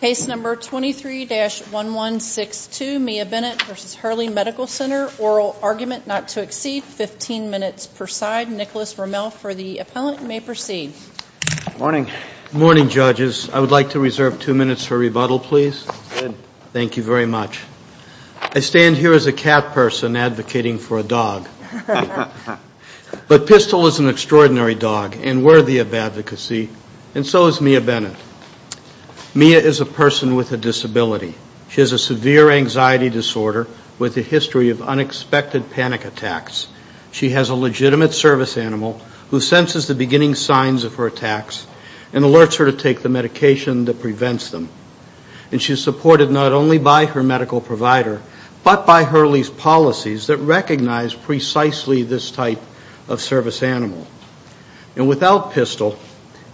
Case number 23-1162, Mia Bennett v. Hurley Medical Center, oral argument not to exceed 15 minutes per side. Nicholas Rommel for the appellant, you may proceed. Morning. Morning, judges. I would like to reserve two minutes for rebuttal, please. Good. Thank you very much. I stand here as a cat person advocating for a dog. But Pistol is an extraordinary dog and worthy of advocacy, and so is Mia Bennett. Mia is a person with a disability. She has a severe anxiety disorder with a history of unexpected panic attacks. She has a legitimate service animal who senses the beginning signs of her attacks and alerts her to take the medication that prevents them. And she's supported not only by her medical provider, but by Hurley's policies that recognize precisely this type of service animal. And without Pistol,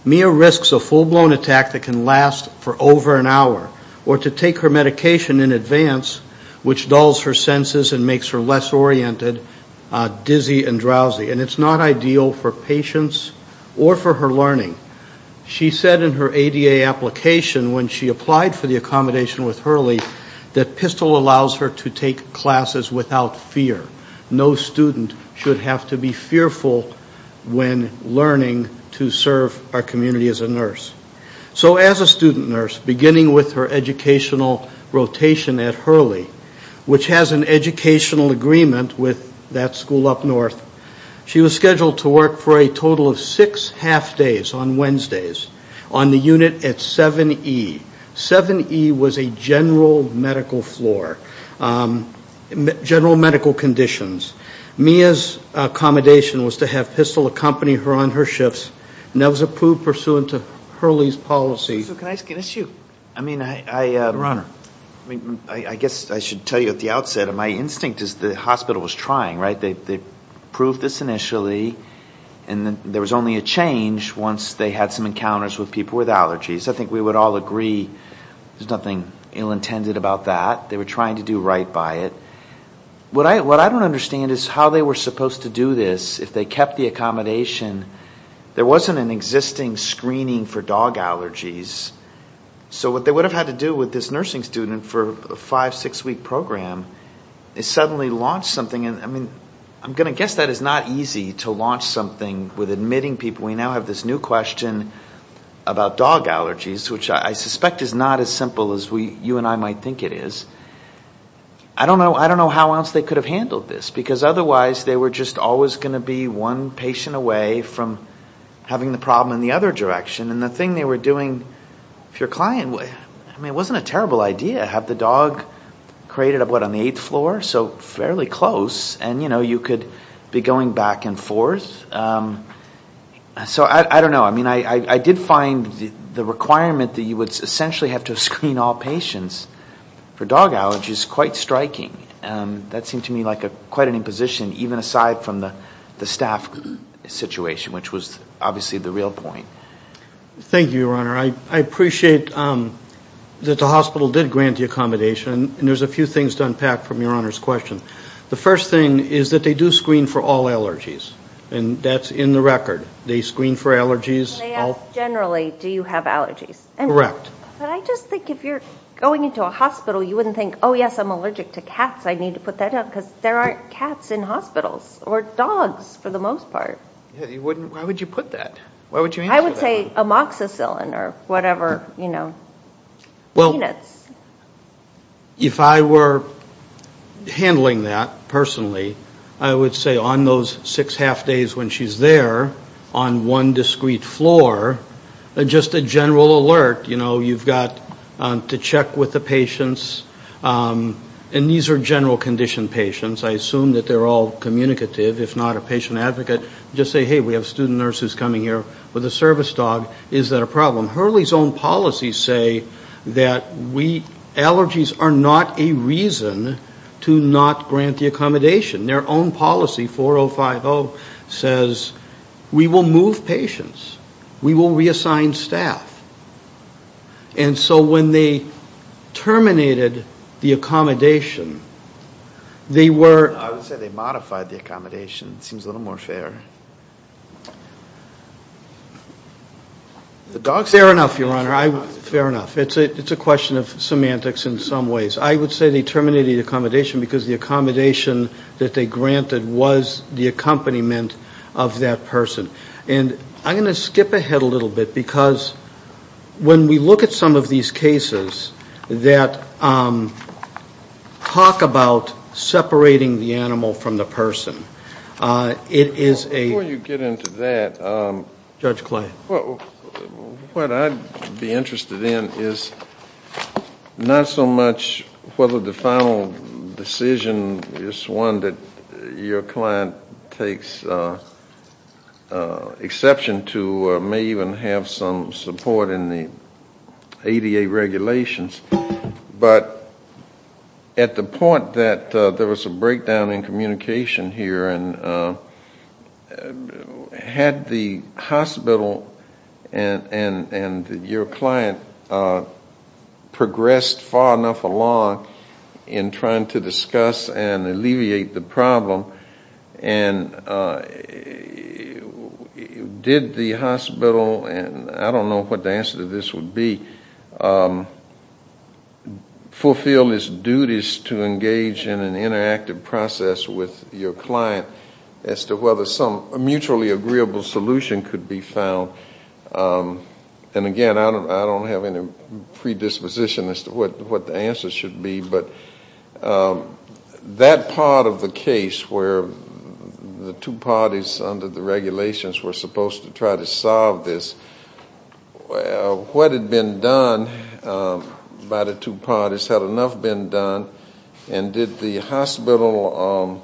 Mia risks a full-blown attack that can last for over an hour or to take her medication in advance, which dulls her senses and makes her less oriented, dizzy, and drowsy. And it's not ideal for patients or for her learning. She said in her ADA application when she applied for the accommodation with Hurley that Pistol allows her to take classes without fear. No student should have to be fearful when learning to serve our community as a nurse. So as a student nurse, beginning with her educational rotation at Hurley, which has an educational agreement with that school up north, she was scheduled to work for a total of six half days on Wednesdays on the unit at 7E. 7E was a general medical floor, general medical conditions. Mia's accommodation was to have Pistol accompany her on her shifts. And that was approved pursuant to Hurley's policy. So can I ask an issue? I mean, I guess I should tell you at the outset, my instinct is the hospital was trying, right? They approved this initially. And there was only a change once they had some encounters with people with allergies. I think we would all agree there's nothing ill-intended about that. They were trying to do right by it. What I don't understand is how they were supposed to do this if they kept the accommodation. There wasn't an existing screening for dog allergies. So what they would have had to do with this nursing student for a five-, six-week program, is suddenly launch something. I mean, I'm going to guess that it's not easy to launch something with admitting people. We now have this new question about dog allergies, which I suspect is not as simple as you and I might think it is. I don't know how else they could have handled this, because otherwise they were just always going to be one patient away from having the problem in the other direction. And the thing they were doing, if your client, I mean, it wasn't a terrible idea, to have the dog created, what, on the eighth floor? So fairly close. And, you know, you could be going back and forth. So I don't know. I mean, I did find the requirement that you would essentially have to screen all patients for dog allergies quite striking. That seemed to me like quite an imposition, even aside from the staff situation, which was obviously the real point. Thank you, Your Honor. I appreciate that the hospital did grant the accommodation, and there's a few things to unpack from Your Honor's question. The first thing is that they do screen for all allergies, and that's in the record. They screen for allergies. They ask generally, do you have allergies? Correct. But I just think if you're going into a hospital, you wouldn't think, oh, yes, I'm allergic to cats. I need to put that up, because there aren't cats in hospitals, or dogs for the most part. Why would you put that? I would say amoxicillin or whatever, you know, peanuts. If I were handling that personally, I would say on those six half days when she's there on one discreet floor, just a general alert, you know, you've got to check with the patients. And these are general condition patients. I assume that they're all communicative, if not a patient advocate. Just say, hey, we have a student nurse who's coming here with a service dog. Is that a problem? Hurley's own policies say that allergies are not a reason to not grant the accommodation. Their own policy, 4050, says we will move patients. We will reassign staff. And so when they terminated the accommodation, they were... I would say they modified the accommodation. It seems a little more fair. Fair enough, Your Honor. Fair enough. It's a question of semantics in some ways. I would say they terminated the accommodation because the accommodation that they granted was the accompaniment of that person. And I'm going to skip ahead a little bit because when we look at some of these cases that talk about separating the animal from the person, it is a... Before you get into that... Judge Clay. What I'd be interested in is not so much whether the final decision is one that your client takes exception to, may even have some support in the ADA regulations, but at the point that there was a breakdown in communication here and had the hospital and your client progressed far enough along in trying to discuss and alleviate the problem, and did the hospital, and I don't know what the answer to this would be, fulfill its duties to engage in an interactive process with your client as to whether some mutually agreeable solution could be found. And again, I don't have any predisposition as to what the answer should be, but that part of the case where the two parties under the regulations were supposed to try to solve this, what had been done by the two parties, had enough been done, and did the hospital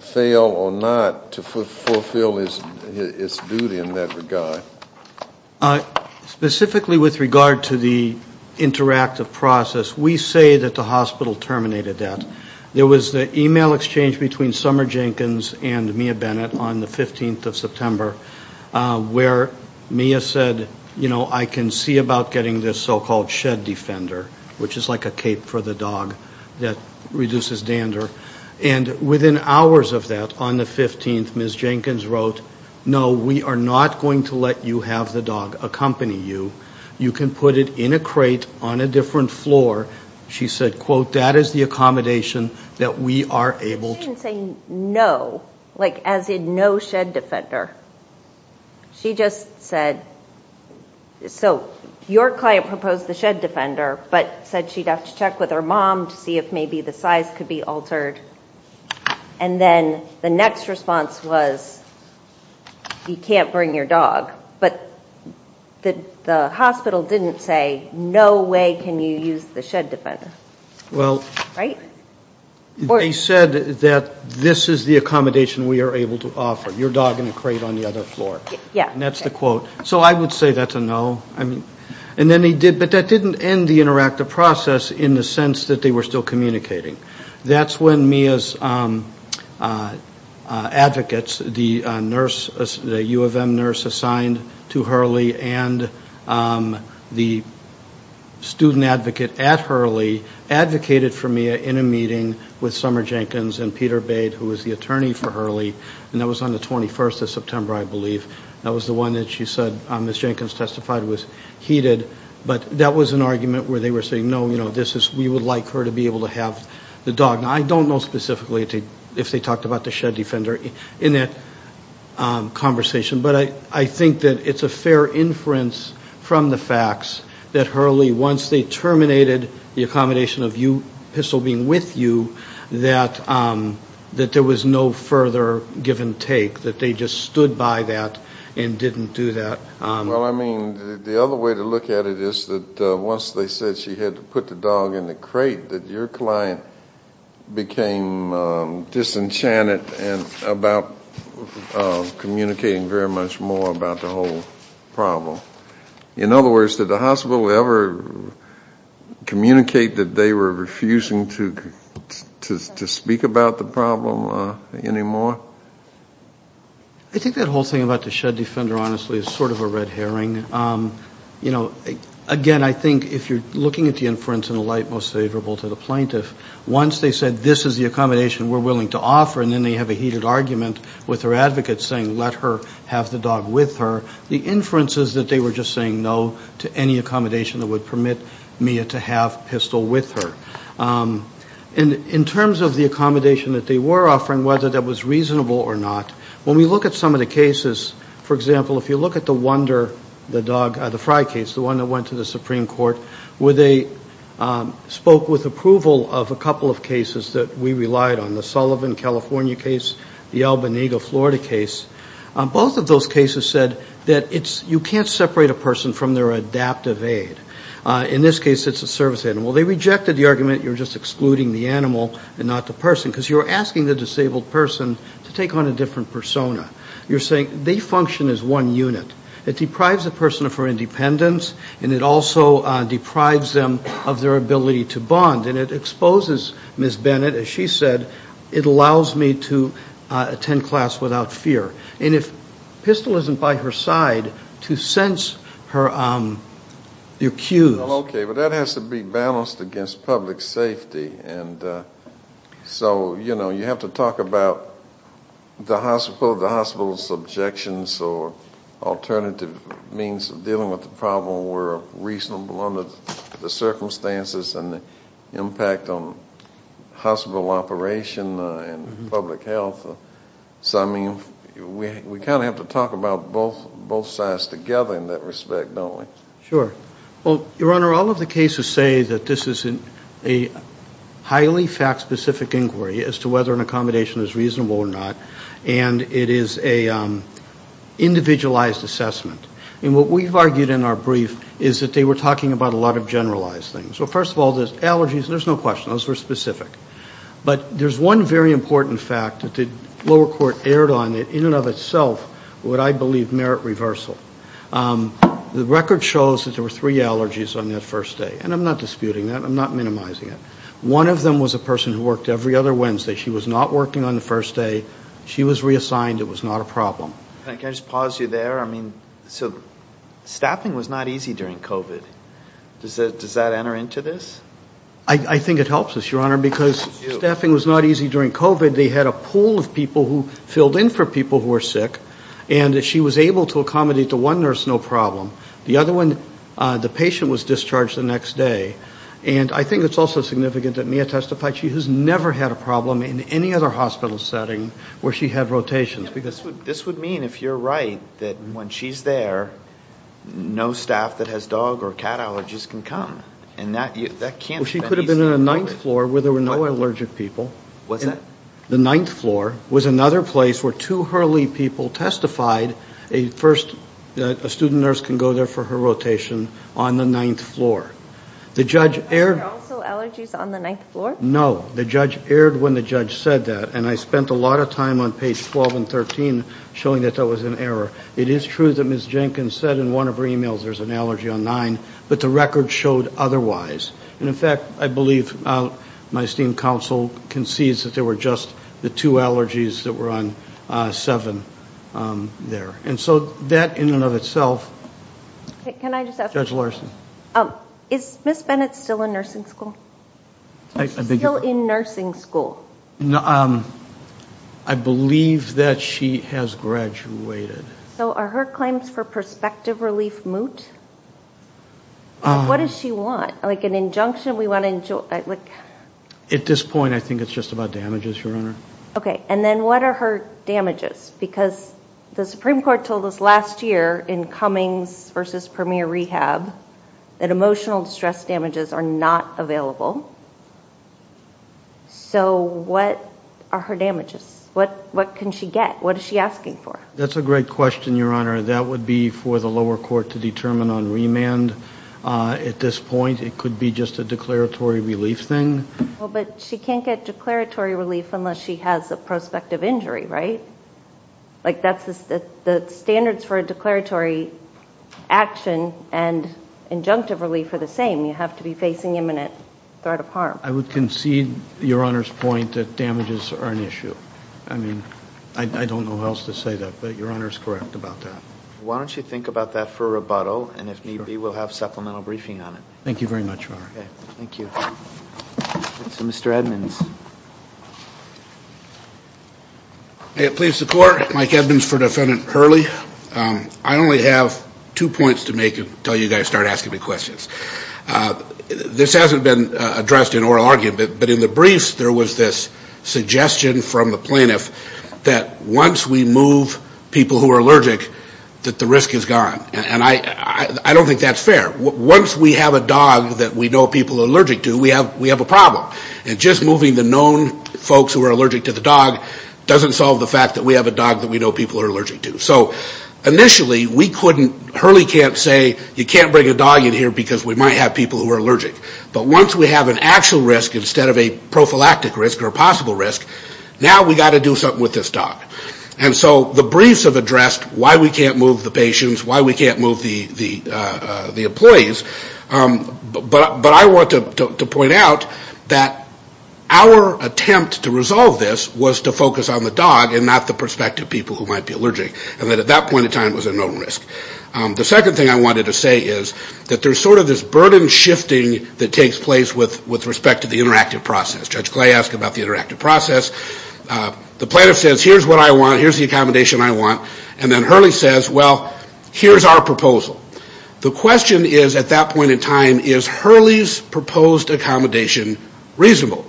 fail or not to fulfill its duty in that regard? Specifically with regard to the interactive process, we say that the hospital terminated that. There was the email exchange between Summer Jenkins and Mia Bennett on the 15th of September, where Mia said, you know, I can see about getting this so-called shed defender, which is like a cape for the dog that reduces dander. And within hours of that, on the 15th, Ms. Jenkins wrote, no, we are not going to let you have the dog accompany you. You can put it in a crate on a different floor. She said, quote, that is the accommodation that we are able to. She didn't say no, like as in no shed defender. She just said, so your client proposed the shed defender, but said she'd have to check with her mom to see if maybe the size could be altered. And then the next response was, you can't bring your dog. But the hospital didn't say, no way can you use the shed defender. Right? They said that this is the accommodation we are able to offer, your dog in a crate on the other floor. Yeah. And that's the quote. So I would say that's a no. And then he did, but that didn't end the interactive process in the sense that they were still communicating. That's when Mia's advocates, the nurse, the U of M nurse assigned to Hurley, and the student advocate at Hurley advocated for Mia in a meeting with Summer Jenkins and Peter Bade, who was the attorney for Hurley, and that was on the 21st of September, I believe. That was the one that she said, as Jenkins testified, was heated. But that was an argument where they were saying, no, we would like her to be able to have the dog. Now, I don't know specifically if they talked about the shed defender in that conversation, but I think that it's a fair inference from the facts that Hurley, once they terminated the accommodation of you, Pistol being with you, that there was no further give and take, that they just stood by that and didn't do that. Well, I mean, the other way to look at it is that once they said she had to put the dog in the crate, that your client became disenchanted about communicating very much more about the whole problem. In other words, did the hospital ever communicate that they were refusing to speak about the problem anymore? I think that whole thing about the shed defender, honestly, is sort of a red herring. You know, again, I think if you're looking at the inference in the light most favorable to the plaintiff, once they said this is the accommodation we're willing to offer, and then they have a heated argument with her advocate saying let her have the dog with her, the inference is that they were just saying no to any accommodation that would permit Mia to have Pistol with her. And in terms of the accommodation that they were offering, whether that was reasonable or not, when we look at some of the cases, for example, if you look at the Wonder, the dog, the Fry case, the one that went to the Supreme Court, where they spoke with approval of a couple of cases that we relied on, the Sullivan, California case, the Albany, Florida case, both of those cases said that you can't separate a person from their adaptive aid. In this case, it's a service animal. They rejected the argument you're just excluding the animal and not the person, because you're asking the disabled person to take on a different persona. You're saying they function as one unit. It deprives a person of her independence, and it also deprives them of their ability to bond, and it exposes Ms. Bennett, as she said, it allows me to attend class without fear. And if Pistol isn't by her side, to sense her cues. Okay, but that has to be balanced against public safety. And so, you know, you have to talk about the hospital, the hospital's objections, or alternative means of dealing with the problem were reasonable under the circumstances and the impact on hospital operation and public health. So, I mean, we kind of have to talk about both sides together in that respect, don't we? Sure. Well, Your Honor, all of the cases say that this is a highly fact-specific inquiry as to whether an accommodation is reasonable or not, and it is an individualized assessment. And what we've argued in our brief is that they were talking about a lot of generalized things. So, first of all, there's allergies. There's no question. Those were specific. But there's one very important fact that the lower court erred on, that in and of itself would, I believe, merit reversal. The record shows that there were three allergies on that first day, and I'm not disputing that. I'm not minimizing it. One of them was a person who worked every other Wednesday. She was not working on the first day. She was reassigned. It was not a problem. Can I just pause you there? I mean, so staffing was not easy during COVID. Does that enter into this? I think it helps us, Your Honor, because staffing was not easy during COVID. They had a pool of people who filled in for people who were sick, and she was able to accommodate the one nurse no problem. The other one, the patient was discharged the next day. And I think it's also significant that Mia testified. She has never had a problem in any other hospital setting where she had rotations. This would mean, if you're right, that when she's there, no staff that has dog or cat allergies can come. She could have been on the ninth floor where there were no allergic people. What's that? The ninth floor was another place where two Hurley people testified that a student nurse can go there for her rotation on the ninth floor. Were there also allergies on the ninth floor? No. The judge erred when the judge said that, and I spent a lot of time on page 12 and 13 showing that that was an error. It is true that Ms. Jenkins said in one of her emails there's an allergy on nine, but the record showed otherwise. And, in fact, I believe my esteemed counsel concedes that there were just the two allergies that were on seven there. And so that in and of itself. Judge Larson. Is Ms. Bennett still in nursing school? Is she still in nursing school? I believe that she has graduated. So are her claims for prospective relief moot? What does she want? Like an injunction? At this point, I think it's just about damages, Your Honor. Okay. And then what are her damages? Because the Supreme Court told us last year in Cummings v. Premier Rehab that emotional distress damages are not available. So what are her damages? What can she get? What is she asking for? That's a great question, Your Honor. That would be for the lower court to determine on remand. At this point, it could be just a declaratory relief thing. Well, but she can't get declaratory relief unless she has a prospective injury, right? Like that's the standards for a declaratory action and injunctive relief are the same. You have to be facing imminent threat of harm. I would concede Your Honor's point that damages are an issue. I mean, I don't know how else to say that, but Your Honor is correct about that. Why don't you think about that for a rebuttal, and if need be we'll have supplemental briefing on it. Thank you very much, Your Honor. Okay. Thank you. Mr. Edmonds. Please, the Court. Mike Edmonds for Defendant Hurley. I only have two points to make until you guys start asking me questions. This hasn't been addressed in oral argument, but in the briefs there was this suggestion from the plaintiff that once we move people who are allergic that the risk is gone. And I don't think that's fair. Once we have a dog that we know people are allergic to, we have a problem. And just moving the known folks who are allergic to the dog doesn't solve the fact that we have a dog that we know people are allergic to. So initially we couldn't, Hurley can't say you can't bring a dog in here because we might have people who are allergic. But once we have an actual risk instead of a prophylactic risk or a possible risk, now we've got to do something with this dog. And so the briefs have addressed why we can't move the patients, why we can't move the employees. But I want to point out that our attempt to resolve this was to focus on the dog and not the prospective people who might be allergic, and that at that point in time it was a known risk. The second thing I wanted to say is that there's sort of this burden shifting that takes place with respect to the interactive process. Judge Clay asked about the interactive process. The plaintiff says, here's what I want, here's the accommodation I want. And then Hurley says, well, here's our proposal. The question is at that point in time, is Hurley's proposed accommodation reasonable?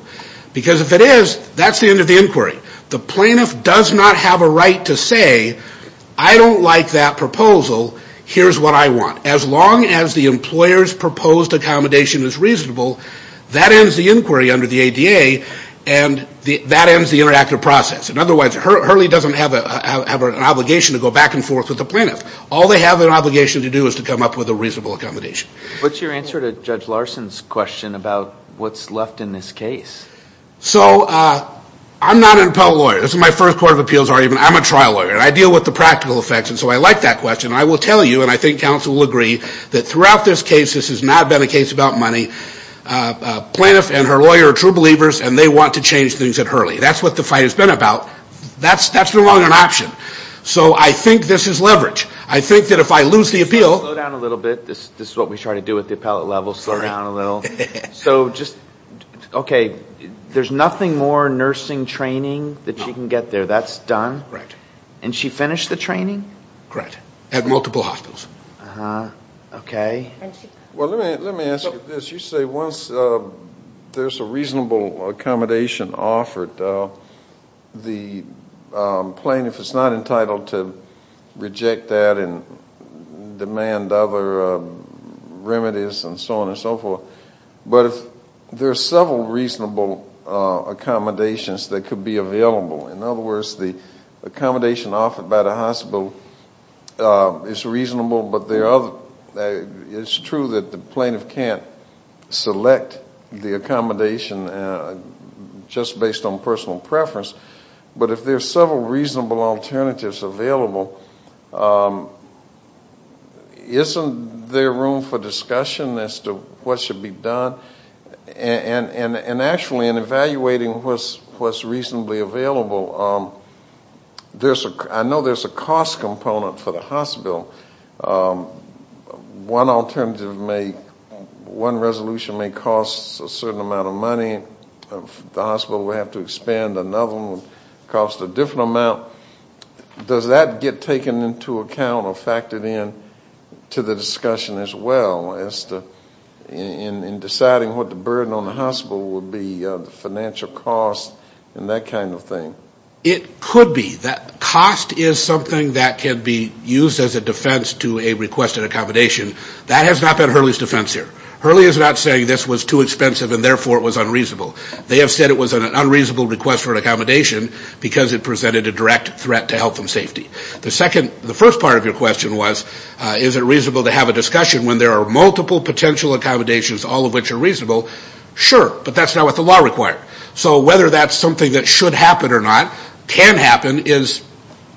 Because if it is, that's the end of the inquiry. The plaintiff does not have a right to say, I don't like that proposal, here's what I want. As long as the employer's proposed accommodation is reasonable, that ends the inquiry under the ADA and that ends the interactive process. And otherwise Hurley doesn't have an obligation to go back and forth with the plaintiff. All they have an obligation to do is to come up with a reasonable accommodation. What's your answer to Judge Larson's question about what's left in this case? So I'm not an appellate lawyer. This is my first court of appeals argument. I'm a trial lawyer. I deal with the practical effects. And so I like that question. I will tell you, and I think counsel will agree, that throughout this case, this has not been a case about money. Plaintiff and her lawyer are true believers, and they want to change things at Hurley. That's what the fight has been about. That's no longer an option. So I think this is leverage. I think that if I lose the appeal. Slow down a little bit. This is what we try to do at the appellate level, slow down a little. So just, okay, there's nothing more nursing training that she can get there? That's done? And she finished the training? Correct. At multiple hospitals. Okay. Well, let me ask you this. You say once there's a reasonable accommodation offered, the plaintiff is not entitled to reject that and demand other remedies and so on and so forth. But if there are several reasonable accommodations that could be available, in other words, the accommodation offered by the hospital is reasonable, but it's true that the plaintiff can't select the accommodation just based on personal preference. But if there are several reasonable alternatives available, isn't there room for discussion as to what should be done? And actually in evaluating what's reasonably available, I know there's a cost component for the hospital. One alternative may, one resolution may cost a certain amount of money. The hospital would have to expand. Another one would cost a different amount. Does that get taken into account or factored in to the discussion as well as to in deciding what the burden on the hospital would be, the financial cost and that kind of thing? It could be. Cost is something that can be used as a defense to a requested accommodation. That has not been Hurley's defense here. Hurley is not saying this was too expensive and therefore it was unreasonable. They have said it was an unreasonable request for an accommodation because it presented a direct threat to health and safety. The first part of your question was, is it reasonable to have a discussion when there are multiple potential accommodations, all of which are reasonable? Sure, but that's not what the law required. So whether that's something that should happen or not, can happen, is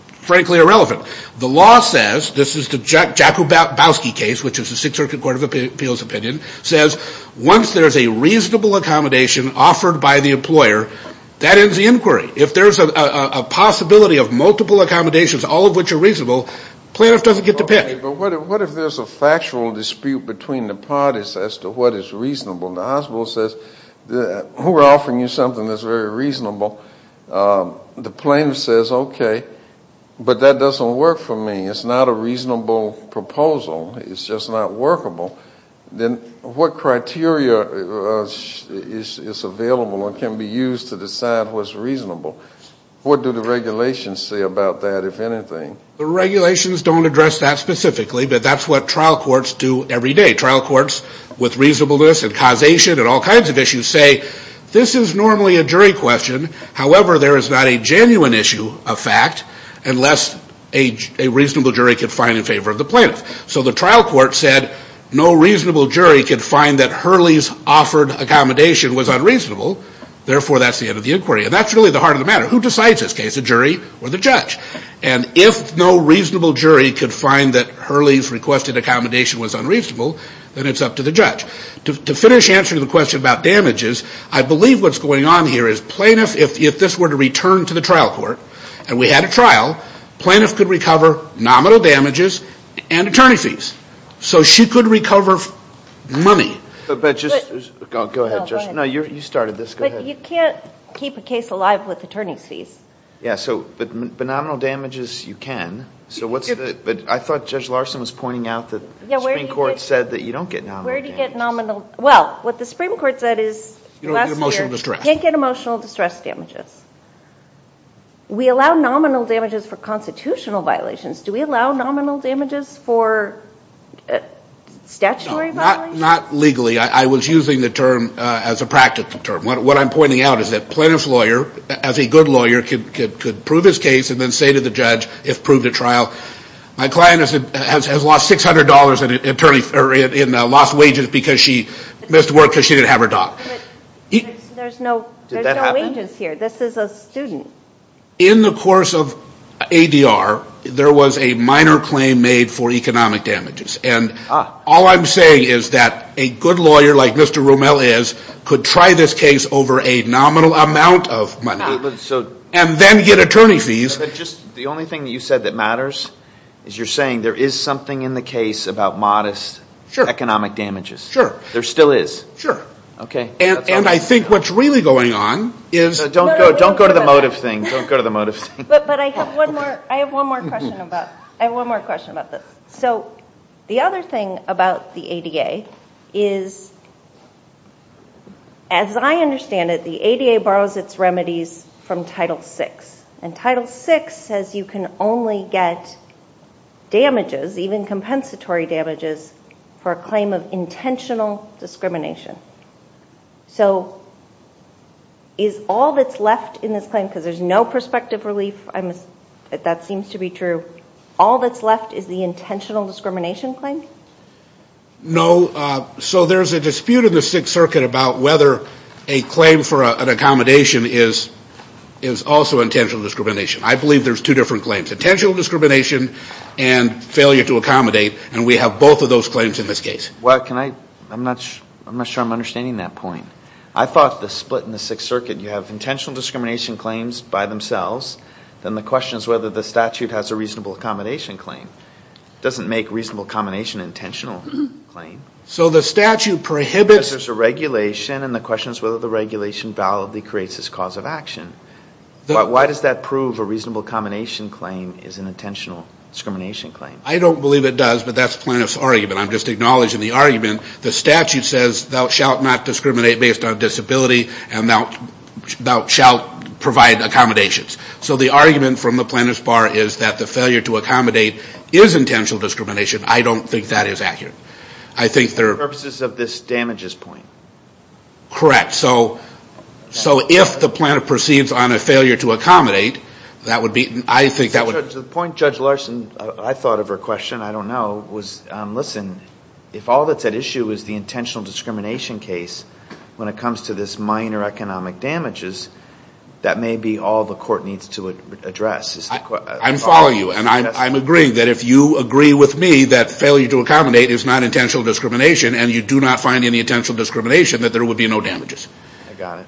frankly irrelevant. The law says, this is the Jakubowski case, which is the Sixth Circuit Court of Appeals opinion, says once there's a reasonable accommodation offered by the employer, that ends the inquiry. If there's a possibility of multiple accommodations, all of which are reasonable, plaintiff doesn't get to pick. But what if there's a factual dispute between the parties as to what is reasonable? The hospital says we're offering you something that's very reasonable. The plaintiff says, okay, but that doesn't work for me. It's not a reasonable proposal. It's just not workable. Then what criteria is available or can be used to decide what's reasonable? What do the regulations say about that, if anything? The regulations don't address that specifically, but that's what trial courts do every day. Trial courts with reasonableness and causation and all kinds of issues say, this is normally a jury question. However, there is not a genuine issue of fact unless a reasonable jury can find in favor of the plaintiff. So the trial court said no reasonable jury could find that Hurley's offered accommodation was unreasonable. Therefore, that's the end of the inquiry. And that's really the heart of the matter. Who decides this case, the jury or the judge? And if no reasonable jury could find that Hurley's requested accommodation was unreasonable, then it's up to the judge. To finish answering the question about damages, I believe what's going on here is plaintiff, if this were to return to the trial court and we had a trial, plaintiff could recover nominal damages and attorney fees. So she could recover money. But just go ahead, Judge. No, you started this. Go ahead. But you can't keep a case alive with attorney's fees. Yeah, but nominal damages you can. But I thought Judge Larson was pointing out that the Supreme Court said that you don't get nominal damages. Where do you get nominal? Well, what the Supreme Court said is last year. You don't get emotional distress. You can't get emotional distress damages. We allow nominal damages for constitutional violations. Do we allow nominal damages for statutory violations? Not legally. I was using the term as a practical term. What I'm pointing out is that plaintiff's lawyer, as a good lawyer, could prove his case and then say to the judge, if proved at trial, my client has lost $600 in lost wages because she missed work because she didn't have her dog. There's no wages here. This is a student. In the course of ADR, there was a minor claim made for economic damages. And all I'm saying is that a good lawyer like Mr. Rommel is could try this case over a nominal amount of money and then get attorney fees. The only thing that you said that matters is you're saying there is something in the case about modest economic damages. Sure. There still is. Sure. And I think what's really going on is Don't go to the motive thing. But I have one more question about this. So the other thing about the ADA is, as I understand it, the ADA borrows its remedies from Title VI. And Title VI says you can only get damages, even compensatory damages, for a claim of intentional discrimination. So is all that's left in this claim, because there's no prospective relief, that seems to be true, all that's left is the intentional discrimination claim? No. So there's a dispute in the Sixth Circuit about whether a claim for an accommodation is also intentional discrimination. I believe there's two different claims, intentional discrimination and failure to accommodate. And we have both of those claims in this case. I'm not sure I'm understanding that point. I thought the split in the Sixth Circuit, you have intentional discrimination claims by themselves. Then the question is whether the statute has a reasonable accommodation claim. It doesn't make reasonable accommodation an intentional claim. So the statute prohibits Because there's a regulation, and the question is whether the regulation validly creates this cause of action. Why does that prove a reasonable accommodation claim is an intentional discrimination claim? I don't believe it does, but that's Plano's argument. I'm just acknowledging the argument. The statute says thou shalt not discriminate based on disability, and thou shalt provide accommodations. So the argument from the Plano's bar is that the failure to accommodate is intentional discrimination. I don't think that is accurate. I think there are Purposes of this damages point. Correct. So if the Plano proceeds on a failure to accommodate, that would be I think that would To the point Judge Larson, I thought of her question, I don't know, was listen, if all that's at issue is the intentional discrimination case when it comes to this minor economic damages, that may be all the court needs to address. I'm following you, and I'm agreeing that if you agree with me that failure to accommodate is not intentional discrimination, and you do not find any intentional discrimination, that there would be no damages. I got it.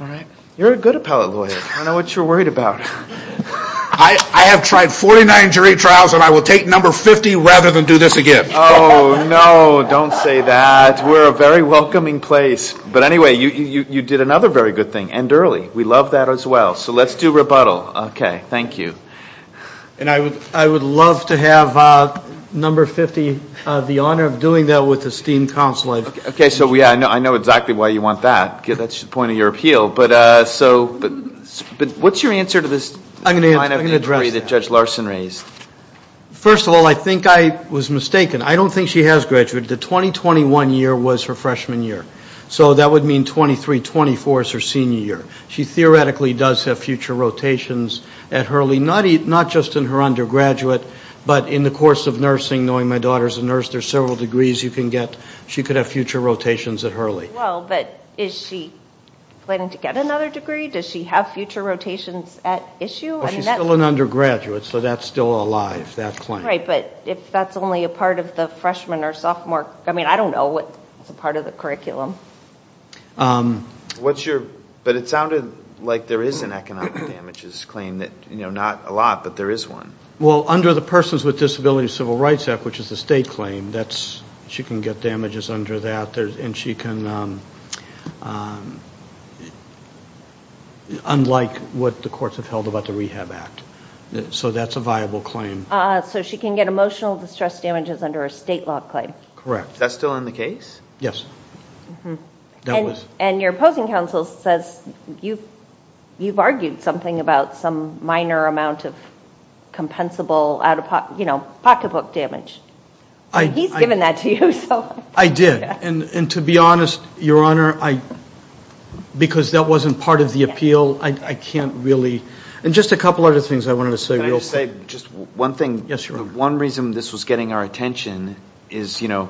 All right. You're a good appellate lawyer. I know what you're worried about. I have tried 49 jury trials, and I will take number 50 rather than do this again. Oh, no, don't say that. We're a very welcoming place. But anyway, you did another very good thing, end early. We love that as well. So let's do rebuttal. Okay. Thank you. And I would love to have number 50, the honor of doing that with esteemed counsel. Okay. So I know exactly why you want that. That's the point of your appeal. But what's your answer to this minor injury that Judge Larson raised? First of all, I think I was mistaken. I don't think she has graduated. The 2021 year was her freshman year. So that would mean 23, 24 is her senior year. She theoretically does have future rotations at Hurley, not just in her undergraduate, but in the course of nursing, knowing my daughter is a nurse, there are several degrees you can get. She could have future rotations at Hurley. Well, but is she planning to get another degree? Does she have future rotations at issue? Well, she's still an undergraduate, so that's still alive, that claim. Right. But if that's only a part of the freshman or sophomore, I mean, I don't know what's a part of the curriculum. But it sounded like there is an economic damages claim, not a lot, but there is one. Well, under the Persons with Disabilities Civil Rights Act, which is a state claim, she can get damages under that, and she can, unlike what the courts have held about the Rehab Act. So that's a viable claim. So she can get emotional distress damages under a state law claim. Correct. Is that still in the case? Yes. And your opposing counsel says you've argued something about some minor amount of compensable out-of-pocket, you know, pocketbook damage. He's given that to you. I did. And to be honest, Your Honor, because that wasn't part of the appeal, I can't really. And just a couple other things I wanted to say real quick. Can I just say just one thing? Yes, Your Honor. One reason this was getting our attention is, you know,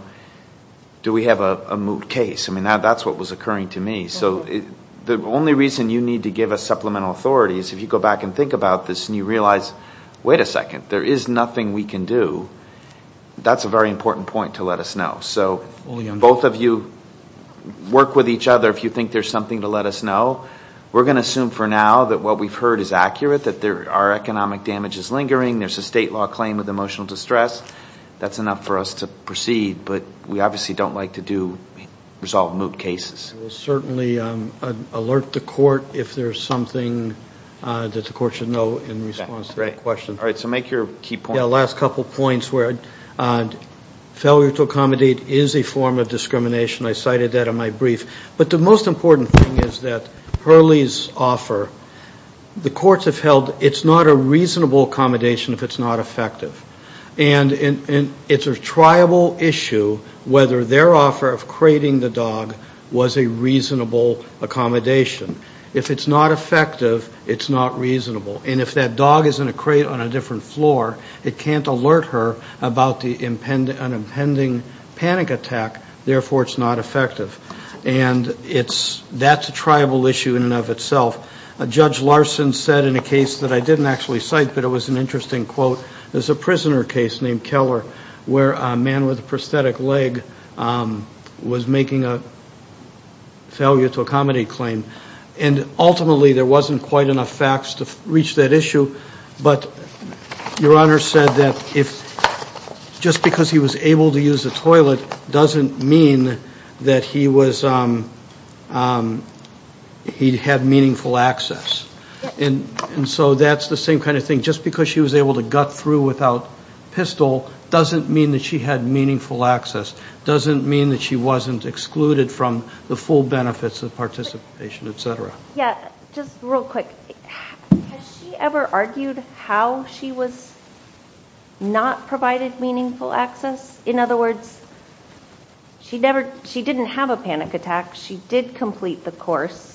do we have a moot case? I mean, that's what was occurring to me. So the only reason you need to give us supplemental authority is if you go back and think about this and you realize, wait a second, there is nothing we can do, that's a very important point to let us know. So both of you work with each other if you think there's something to let us know. We're going to assume for now that what we've heard is accurate, that our economic damage is lingering, there's a state law claim of emotional distress, that's enough for us to proceed. But we obviously don't like to do resolved moot cases. We'll certainly alert the court if there's something that the court should know in response to that question. All right, so make your key point. Yeah, last couple points where failure to accommodate is a form of discrimination. I cited that in my brief. But the most important thing is that Hurley's offer, the courts have held it's not a reasonable accommodation if it's not effective. And it's a triable issue whether their offer of crating the dog was a reasonable accommodation. If it's not effective, it's not reasonable. And if that dog is in a crate on a different floor, it can't alert her about an impending panic attack, therefore it's not effective. And that's a triable issue in and of itself. Judge Larson said in a case that I didn't actually cite, but it was an interesting quote, there's a prisoner case named Keller where a man with a prosthetic leg was making a failure to accommodate claim. And ultimately there wasn't quite enough facts to reach that issue. But Your Honor said that just because he was able to use the toilet doesn't mean that he had meaningful access. And so that's the same kind of thing. Just because she was able to gut through without pistol doesn't mean that she had meaningful access, doesn't mean that she wasn't excluded from the full benefits of participation, et cetera. Yeah, just real quick. Has she ever argued how she was not provided meaningful access? In other words, she didn't have a panic attack. She did complete the course.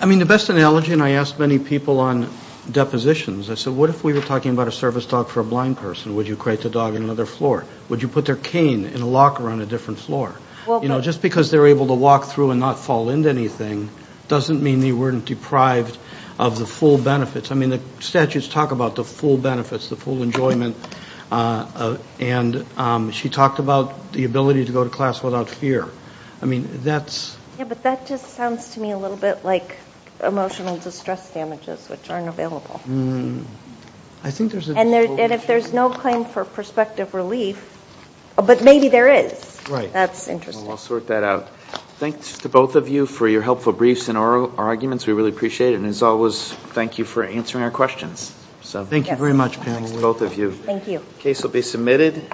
I mean, the best analogy, and I asked many people on depositions, I said, what if we were talking about a service dog for a blind person? Would you crate the dog in another floor? Would you put their cane in a locker on a different floor? You know, just because they're able to walk through and not fall into anything doesn't mean they weren't deprived of the full benefits. I mean, the statutes talk about the full benefits, the full enjoyment. And she talked about the ability to go to class without fear. I mean, that's – Yeah, but that just sounds to me a little bit like emotional distress damages which aren't available. I think there's a – And if there's no claim for prospective relief, but maybe there is. That's interesting. I'll sort that out. Thanks to both of you for your helpful briefs and arguments. We really appreciate it. And as always, thank you for answering our questions. Thank you very much, Pamela. Thanks to both of you. Thank you. The case will be submitted.